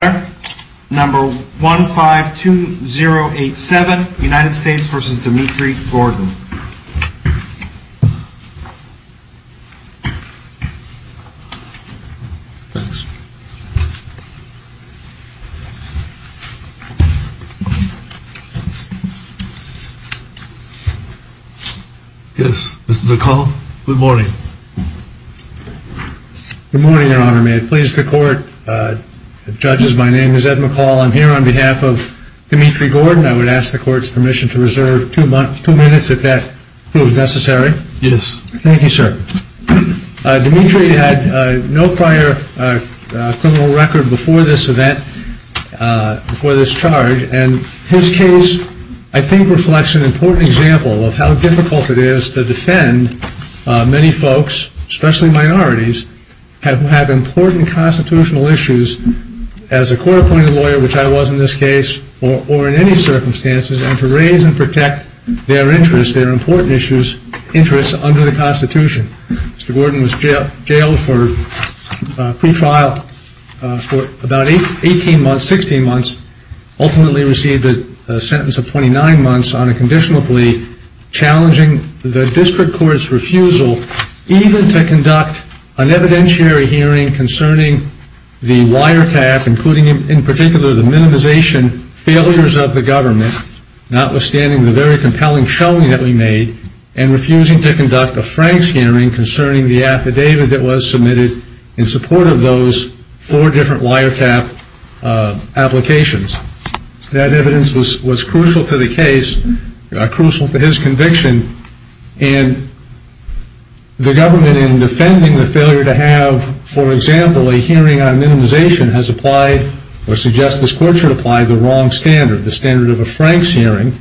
152087 United States v. Dmitry Gordon Yes, this is a call. Good morning. Good morning, Your Honor. May it please the Court, Judges, my name is Ed McCall. I'm here on behalf of Dmitry Gordon. I would ask the Court's permission to reserve two minutes if that proves necessary. Yes. Thank you, sir. Dmitry had no prior criminal record before this event, before this charge, and his case, I think, reflects an important example of how difficult it is to defend many folks, especially minorities, who have important constitutional issues, as a court-appointed lawyer, which I was in this case, or in any circumstances, and to raise and protect their interests, their important issues, interests under the Constitution. Mr. Gordon was jailed for pretrial for about 18 months, 16 months, ultimately received a sentence of 29 months on a conditional plea, challenging the district court's refusal even to conduct an evidentiary hearing concerning the wiretap, including, in particular, the minimization failures of the government, notwithstanding the very compelling showing that we made, and refusing to conduct a Franks hearing concerning the affidavit that was submitted in support of those four different wiretap applications. That evidence was crucial to the case, crucial to his conviction, and the government, in defending the failure to have, for example, a hearing on minimization, has applied, or suggests this Court should apply, the wrong standard, the standard of a Franks hearing,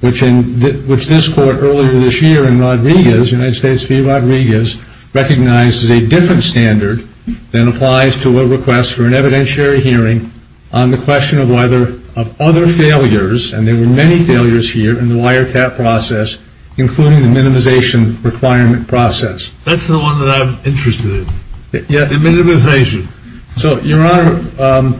which this Court earlier this year in Rodriguez, United States v. Rodriguez, recognizes a different standard than applies to a request for an evidentiary hearing on the question of whether, of other failures, and there were many failures here in the wiretap process, including the minimization requirement process. That's the one that I'm interested in, the minimization. So, Your Honor,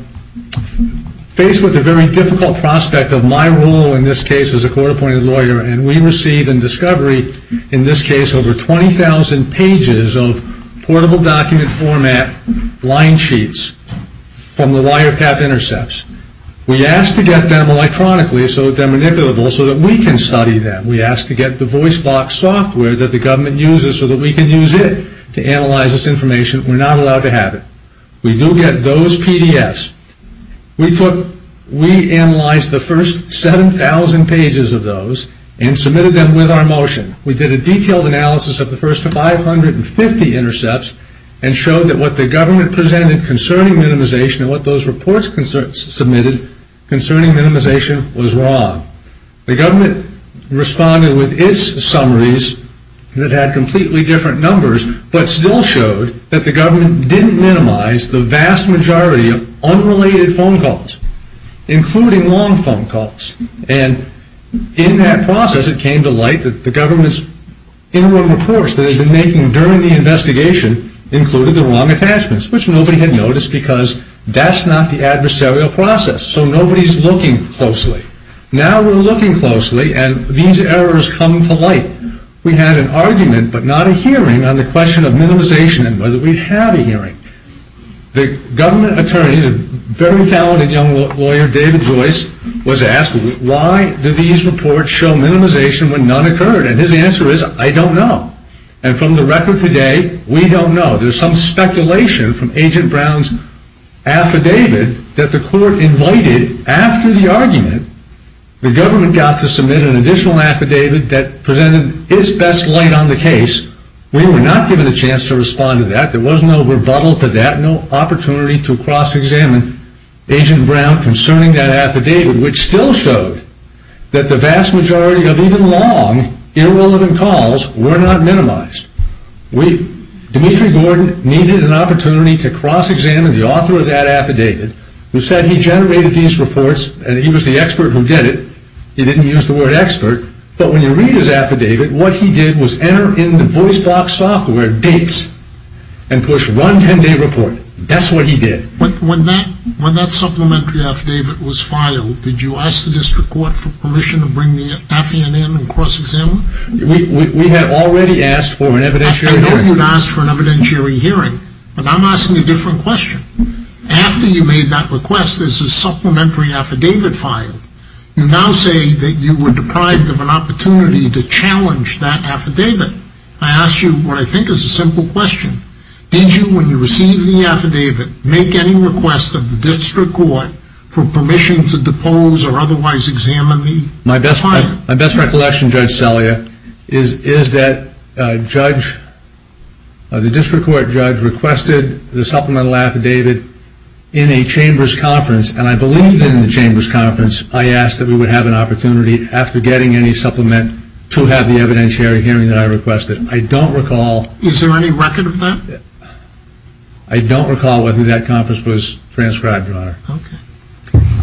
faced with the very difficult prospect of my role in this case as a court appointed lawyer, and we received in discovery, in this case, over 20,000 pages of portable document format line sheets from the wiretap intercepts. We asked to get them electronically, so they're manipulable, so that we can study them. We asked to get the voice box software that the government uses so that we can use it to analyze this information. We're not allowed to have it. We do get those PDFs. We took, we analyzed the first 7,000 pages of those and submitted them with our motion. We did a detailed analysis of the first 550 intercepts and showed that what the government presented concerning minimization and what those reports submitted concerning minimization was wrong. The government responded with its summaries that had completely different numbers, but still showed that the government didn't minimize the vast majority of unrelated phone calls, including long phone calls. And in that process, it came to light that the government's interim reports that it had been making during the investigation included the wrong attachments, which nobody had noticed because that's not the adversarial process. So nobody's looking closely. Now we're looking closely, and these errors come to light. We had an argument, but not a hearing, on the question of minimization and whether we'd have a hearing. The government attorney, a very talented young lawyer, David Joyce, was asked, why did these reports show minimization when none occurred? And his answer is, I don't know. And from the record today, we don't know. There's some speculation from Agent Brown's affidavit that the court invited after the argument, the government got to submit an additional affidavit that presented its best light on the case. We were not given a chance to respond to that. There was no rebuttal to that, no opportunity to cross-examine Agent Brown concerning that affidavit, which still showed that the vast majority of even long, irrelevant calls were not minimized. Dmitry Gordon needed an opportunity to cross-examine the author of that affidavit, who said he generated these reports, and he was the expert who did it. He didn't use the word expert. But when you read his affidavit, what he did was enter in the voice box software dates and push run 10-day report. That's what he did. But when that supplementary affidavit was filed, did you ask the district court for permission to bring the affiant in and cross-examine? We had already asked for an evidentiary hearing. I know you had asked for an evidentiary hearing, but I'm asking a different question. After you made that request, there's a supplementary affidavit filed. You now say that you were deprived of an opportunity to challenge that affidavit. I ask you what I think is a simple question. Did you, when you received the affidavit, make any request of the district court for permission to depose or otherwise examine the client? My best recollection, Judge Celia, is that the district court judge requested the supplemental affidavit in a chamber's conference, and I believe that in the chamber's conference, I asked that we would have an opportunity, after getting any supplement, to have the evidentiary hearing that I requested. I don't recall... Is there any record of that? I don't recall whether that conference was transcribed, Your Honor.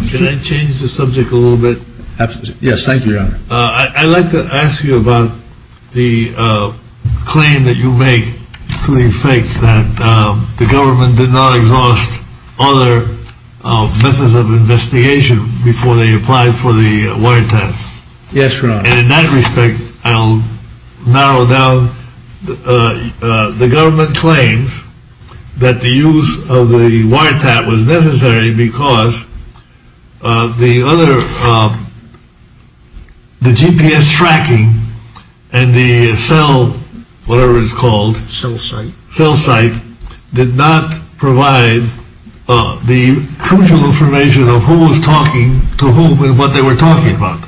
Can I change the subject a little bit? Yes, thank you, Your Honor. I'd like to ask you about the claim that you make to the effect that the government did not exhaust other methods of investigation before they applied for the wire test. Yes, Your Honor. And in that respect, I'll narrow down. The government claims that the use of the wire tap was necessary because the other, the GPS tracking and the cell, whatever it's called... Cell site. Cell site, did not provide the crucial information of who was talking to whom and what they were talking about.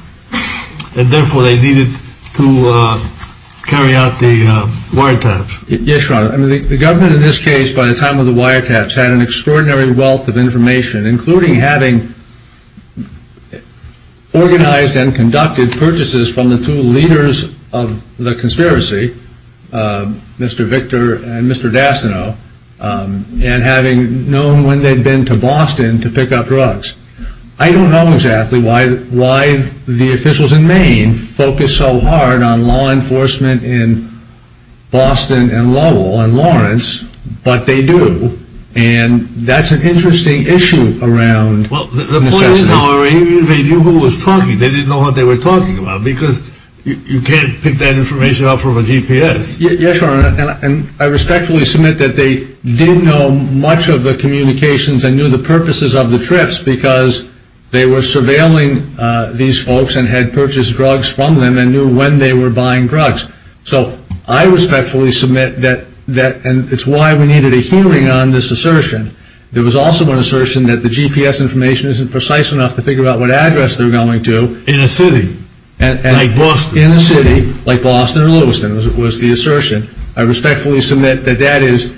And therefore, they needed to carry out the wire taps. Yes, Your Honor. The government in this case, by the time of the wire taps, had an extraordinary wealth of information, including having organized and conducted purchases from the two leaders of the conspiracy, Mr. Victor and Mr. Dasano, and having known when they'd been to Boston to pick up drugs. I don't know exactly why the officials in Maine focus so hard on law enforcement in Boston and Lowell and Lawrence, but they do. And that's an interesting issue around... Well, the point is, they knew who was talking. They didn't know what they were talking about because you can't pick that information up from a GPS. Yes, Your Honor. And I respectfully submit that they didn't know much of the communications and knew the purposes of the trips because they were surveilling these folks and had purchased drugs from them and knew when they were buying drugs. So I respectfully submit that... And it's why we needed a hearing on this assertion. There was also an assertion that the GPS information isn't precise enough to figure out what address they're going to... In a city. In a city, like Boston or Lewiston, was the assertion. I respectfully submit that that is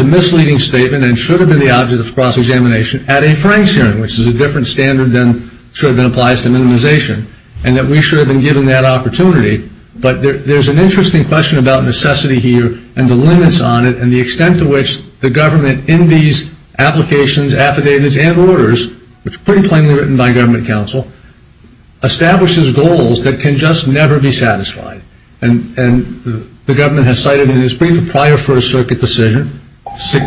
a misleading statement and should have been the object of the cross-examination at a Frank's hearing, which is a different standard than should have been applied to minimization, and that we should have been given that opportunity. But there's an interesting question about necessity here and the limits on it and the extent to which the government in these applications, affidavits, and orders, which are pretty plainly written by government counsel, establishes goals that can just never be satisfied. And the government has cited in its brief a prior First Circuit decision,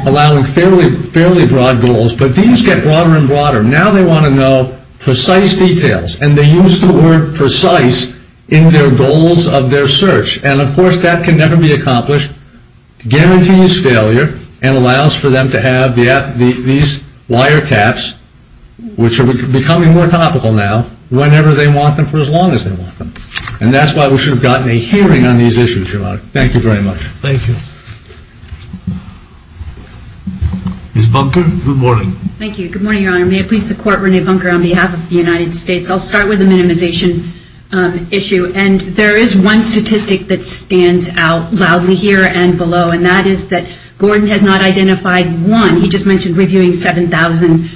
allowing fairly broad goals, but these get broader and broader. Now they want to know precise details, and they use the word precise in their goals of their search, and of course that can never be accomplished, guarantees failure, and allows for them to have these wiretaps, which are becoming more topical now, whenever they want them for as long as they want them. And that's why we should have gotten a hearing on these issues, Your Honor. Thank you very much. Thank you. Ms. Bunker, good morning. Thank you. Good morning, Your Honor. May it please the Court, Renee Bunker, on behalf of the United States, I'll start with the minimization issue. And there is one statistic that stands out loudly here and below, and that is that Gordon has not identified one, he just mentioned reviewing 7,000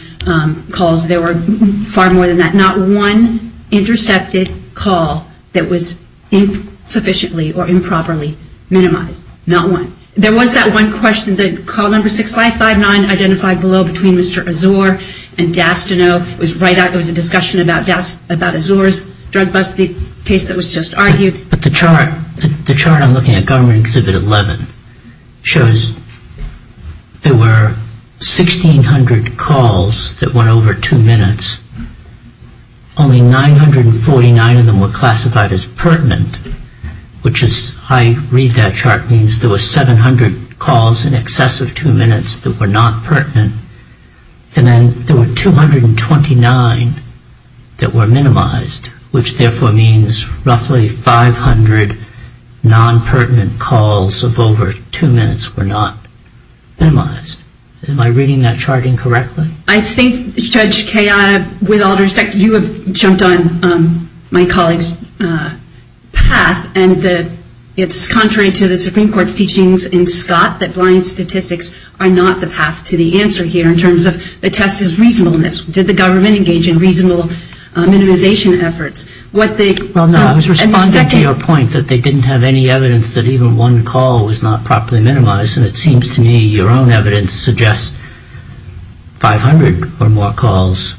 calls, there were far more than that. Not one intercepted call that was insufficiently or improperly minimized, not one. There was that one question that call number 6559 identified below between Mr. Azor and Dastanow, it was right after the discussion about Azor's drug bust, the case that was just argued. But the chart, the chart I'm looking at, Government Exhibit 11, shows there were 1,600 calls that were not pertinent. Only 949 of them were classified as pertinent, which as I read that chart means there were 700 calls in excess of two minutes that were not pertinent, and then there were 229 that were minimized, which therefore means roughly 500 non-pertinent calls of over two minutes were not minimized. Am I reading that chart incorrectly? I think Judge Kayada, with all due respect, you have jumped on my colleague's path, and it's contrary to the Supreme Court's teachings in Scott that blind statistics are not the path to the answer here in terms of the test is reasonableness. Did the government engage in reasonable minimization efforts? What they Well, no, I was responding to your point that they didn't have any evidence that even one call was not properly minimized, and it seems to me your own evidence suggests 500 or more calls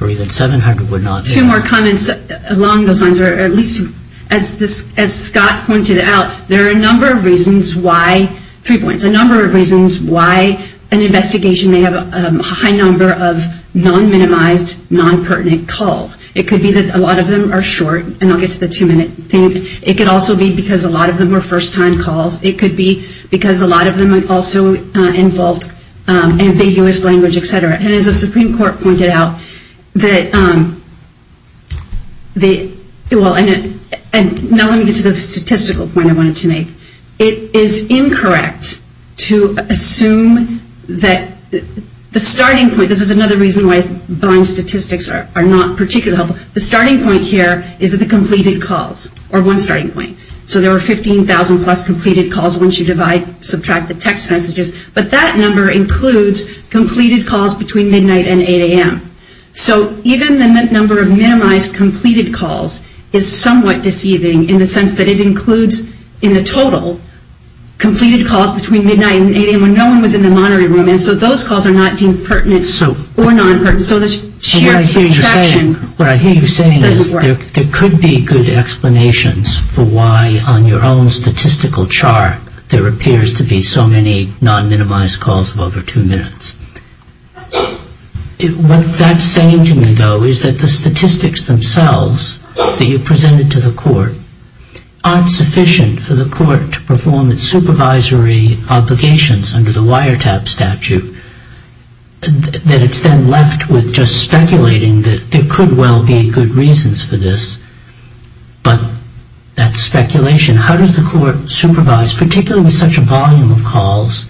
or even 700 were not. Two more comments along those lines, or at least as Scott pointed out, there are a number of reasons why, three points, a number of reasons why an investigation may have a high number of non-minimized, non-pertinent calls. It could be that a lot of them are short, and I'll get to the two-minute thing. It could also be because a lot of them were first-time calls. It could be because a lot of them also involved ambiguous language, et cetera. And as the Supreme Court pointed out, that, well, and now let me get to the statistical point I wanted to make. It is incorrect to assume that the starting point, this is another reason why blind statistics are not particularly helpful. The starting point here is that the completed calls, or one starting point. So there were 15,000-plus completed calls once you divide, subtract the text messages, but that number includes completed calls between midnight and 8 a.m. So even the number of minimized completed calls is somewhat deceiving in the sense that it includes in the total completed calls between midnight and 8 a.m. when no one was in the monitoring room, and so those calls are not deemed pertinent or non-pertinent. So this shared subtraction doesn't work. What I hear you saying is there could be good explanations for why on your own statistical chart there appears to be so many non-minimized calls of over two minutes. What that's saying to me, though, is that the statistics themselves that you presented to the court aren't sufficient for the court to perform its supervisory obligations under the wiretap statute, that it's then left with just speculating that there could well be good reasons for this, but that's speculation. How does the court supervise, particularly with such a volume of calls,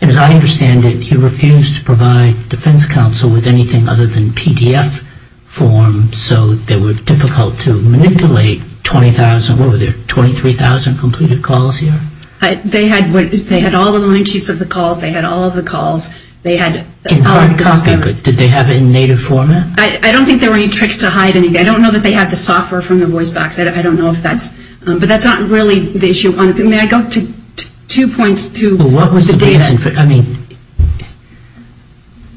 and as I understand it, you refused to provide defense counsel with anything other than PDF form so they were difficult to manipulate 20,000, what were there, 23,000 completed calls here? They had all the line sheets of the calls. They had all of the calls. They had all of this. In hard copy? Did they have it in native format? I don't think there were any tricks to hide anything. I don't know that they had the software from the voice box. I don't know if that's, but that's not really the issue. May I go to two points to the data? Well, what was the data? I mean,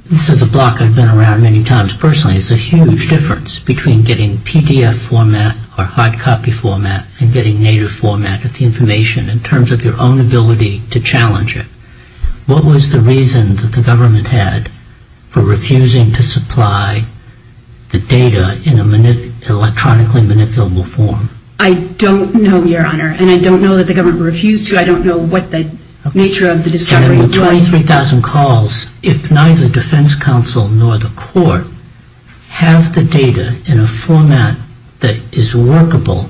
this is a block I've been around many times. Personally, it's a huge difference between getting PDF format or hard copy format and getting native format of the information in terms of your own ability to challenge it. What was the reason that the government had for refusing to supply the data in an electronically manipulable form? I don't know, Your Honor, and I don't know that the government refused to. I don't know what the nature of the discovery was. With 23,000 calls, if neither defense counsel nor the court have the data in a format that is workable,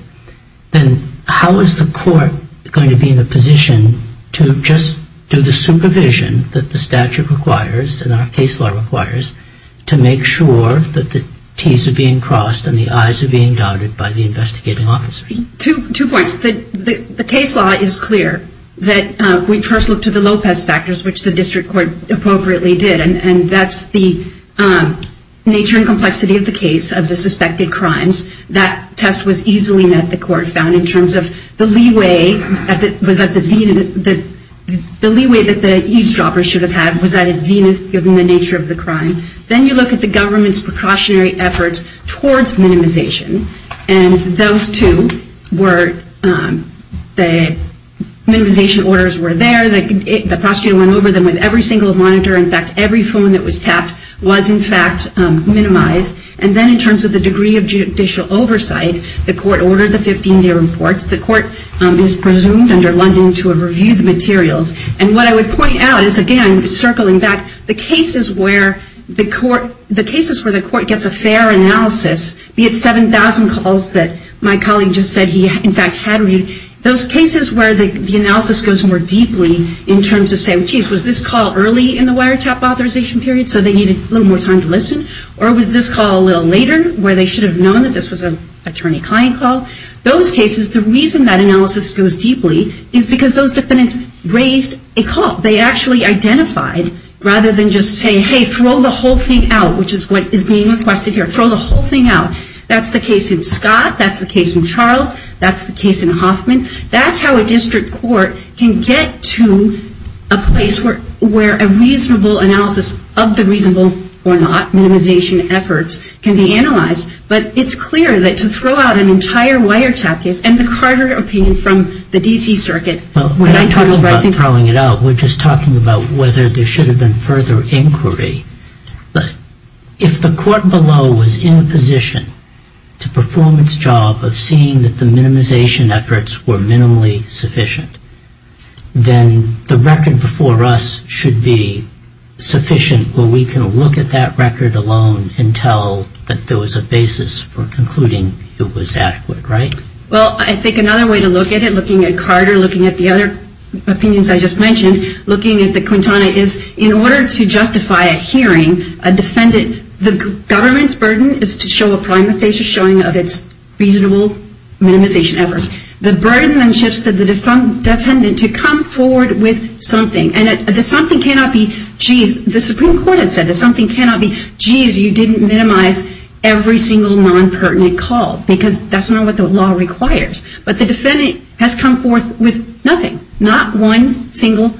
then how is the court going to be in a position to just do the supervision that the statute requires and our case law requires to make sure that the T's are being crossed and the I's are being doubted by the investigating officer? Two points. The case law is clear that we first look to the Lopez factors, which the district court appropriately did, and that's the nature and complexity of the case of the suspected crimes. That test was easily met, the court found, in terms of the leeway that the eavesdroppers should have had was at its zenith, given the nature of the crime. Then you look at the government's precautionary efforts towards minimization, and those two were the minimization orders were there, the prosecutor went over them with every single monitor. In fact, every phone that was tapped was, in fact, minimized. And then in terms of the degree of judicial oversight, the court ordered the 15-day reports. The court is presumed under London to have reviewed the materials. And what I would point out is, again, circling back, the cases where the court gets a fair analysis, be it 7,000 calls that my colleague just said he, in fact, had read, those cases where the analysis goes more deeply in terms of saying, geez, was this call early in the wiretap authorization period, so they needed a little more time to listen? Or was this call a little later, where they should have known that this was an attorney-client call? Those cases, the reason that analysis goes deeply is because those defendants raised a call. They actually identified, rather than just saying, hey, throw the whole thing out, which is what is being requested here, throw the whole thing out. That's the case in Scott. That's the case in Charles. That's the case in Hoffman. That's how a district court can get to a place where a reasonable analysis of the reasonable or not minimization efforts can be analyzed. But it's clear that to throw out an entire wiretap case, and the Carter opinion from the D.C. Circuit, when I talk about throwing it out, we're just talking about whether there should have been further inquiry. If the court below was in a position to perform its job of seeing that the minimization efforts were minimally sufficient, then the record before us should be sufficient where we can look at that record alone and tell that there was a basis for concluding it was adequate, right? Well, I think another way to look at it, looking at Carter, looking at the other opinions I just mentioned, looking at the Quintana, is in order to justify a hearing, a defendant, the government's burden is to show a prima facie showing of its reasonable minimization efforts. The burden then shifts to the defendant to come forward with something, and the something cannot be, geez, the Supreme Court has said that something cannot be, geez, you didn't minimize every single non-pertinent call, because that's not what the law requires. But the defendant has come forth with nothing. Not one single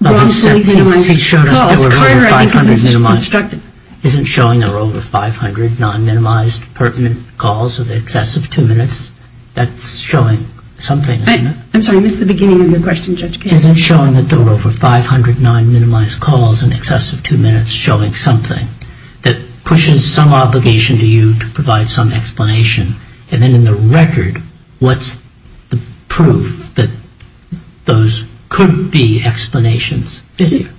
wrongfully minimized call, as Carter, I think, has instructed. Isn't showing there were over 500 non-minimized pertinent calls of the excess of two minutes, that's showing something, isn't it? I'm sorry, I missed the beginning of your question, Judge Kasich. Isn't showing that there were over 500 non-minimized calls in excess of two minutes showing something that pushes some obligation to you to provide some explanation, and then in the record, what's the proof that those could be explanations, do you think?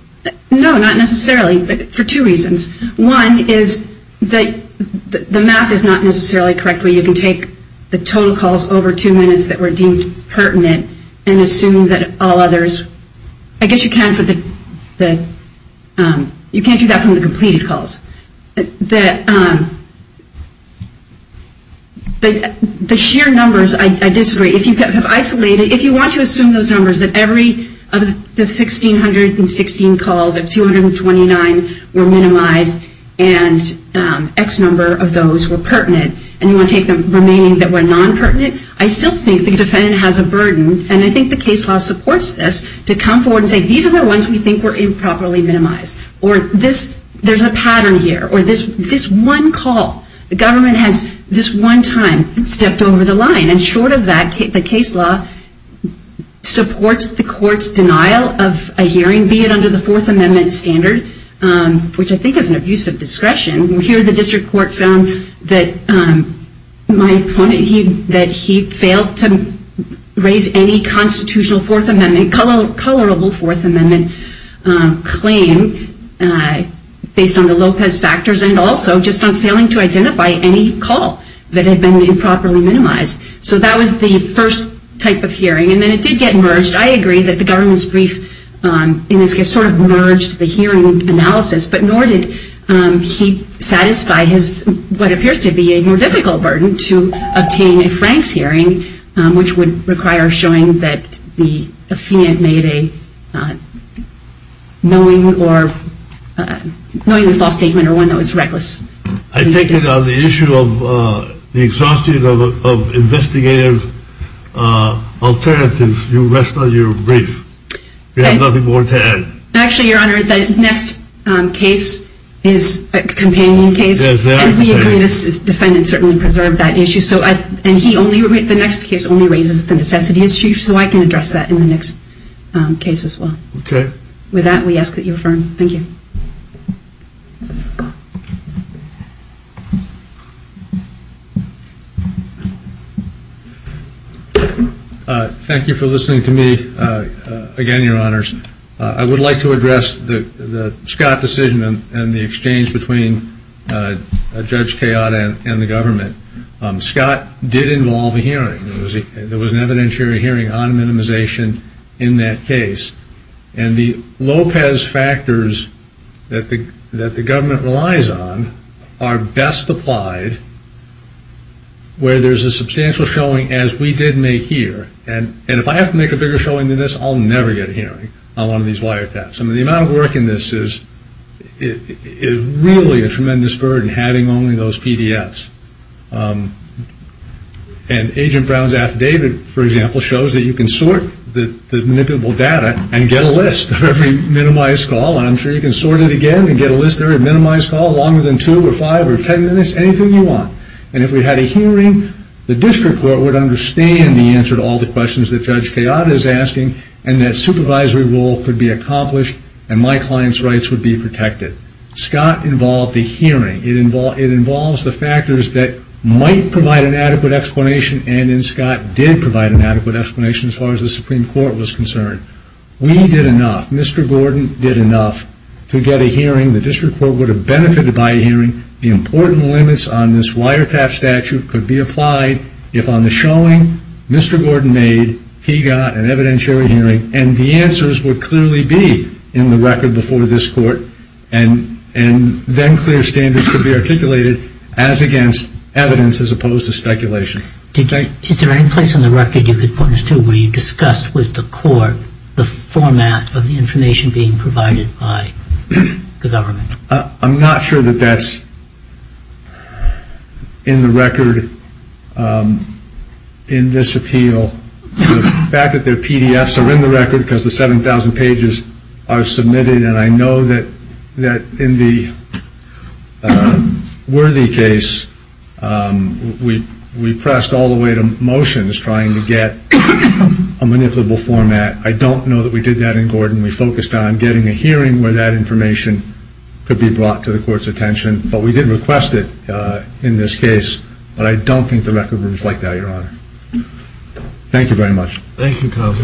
No, not necessarily, but for two reasons. One is that the math is not necessarily correct where you can take the total calls over two and assume that all others, I guess you can for the, you can't do that from the completed calls, the sheer numbers, I disagree, if you have isolated, if you want to assume those numbers that every of the 1,616 calls of 229 were minimized and X number of those were pertinent, and you want to take the remaining that were non-pertinent, I still think the case law has a burden, and I think the case law supports this, to come forward and say these are the ones we think were improperly minimized, or this, there's a pattern here, or this one call, the government has this one time stepped over the line, and short of that, the case law supports the court's denial of a hearing, be it under the Fourth Amendment standard, which I think is an abuse of discretion, and here the district court found that my opponent, that he failed to raise any constitutional Fourth Amendment, colorable Fourth Amendment claim, based on the Lopez factors, and also just on failing to identify any call that had been improperly minimized, so that was the first type of hearing, and then it did get merged, I agree that the government's brief, in this case sort of merged the hearing analysis, but nor did he satisfy his, what appears to be a more difficult burden to obtain a Frank's hearing, which would require showing that the defendant made a knowing or, knowing the false statement, or one that was reckless. I take it on the issue of the exhaustion of investigative alternatives, you rest on your brief, you have nothing more to add. Actually your honor, the next case is a companion case, and we agree this defendant certainly preserved that issue, and he only, the next case only raises the necessity issue, so I can address that in the next case as well. With that we ask that you affirm, thank you. Thank you for listening to me, again your honors, I would like to address the Scott decision and the exchange between Judge Kayada and the government. Scott did involve a hearing, there was an evidentiary hearing on minimization in that the government relies on are best applied where there's a substantial showing as we did make here, and if I have to make a bigger showing than this, I'll never get a hearing on one of these wiretaps, and the amount of work in this is really a tremendous burden having only those PDFs, and Agent Brown's affidavit, for example, shows that you can sort the manipulable data and get a list of every minimized call, and I'm sure you can get a list of every minimized call, longer than two or five or ten minutes, anything you want, and if we had a hearing, the district court would understand the answer to all the questions that Judge Kayada is asking, and that supervisory role could be accomplished, and my client's rights would be protected. Scott involved the hearing, it involves the factors that might provide an adequate explanation, and then Scott did provide an adequate explanation as far as the Supreme Court was concerned. We did enough, Mr. Gordon did enough to get a hearing, the district court would have benefited by a hearing, the important limits on this wiretap statute could be applied if on the showing Mr. Gordon made, he got an evidentiary hearing, and the answers would clearly be in the record before this court, and then clear standards could be articulated as against evidence as opposed to speculation. Is there any place on the record you could point us to where you discussed with the court the format of the information being provided by the government? I'm not sure that that's in the record in this appeal, the fact that their PDFs are in the record because the 7,000 pages are submitted, and I know that in the Worthy case, we pressed all the way to motions trying to get a manipulable format, I don't know that we did that in Gordon, we focused on getting a hearing where that information could be brought to the court's attention, but we didn't request it in this case, but I don't think the record would reflect that, Your Honor. Thank you, Calvin.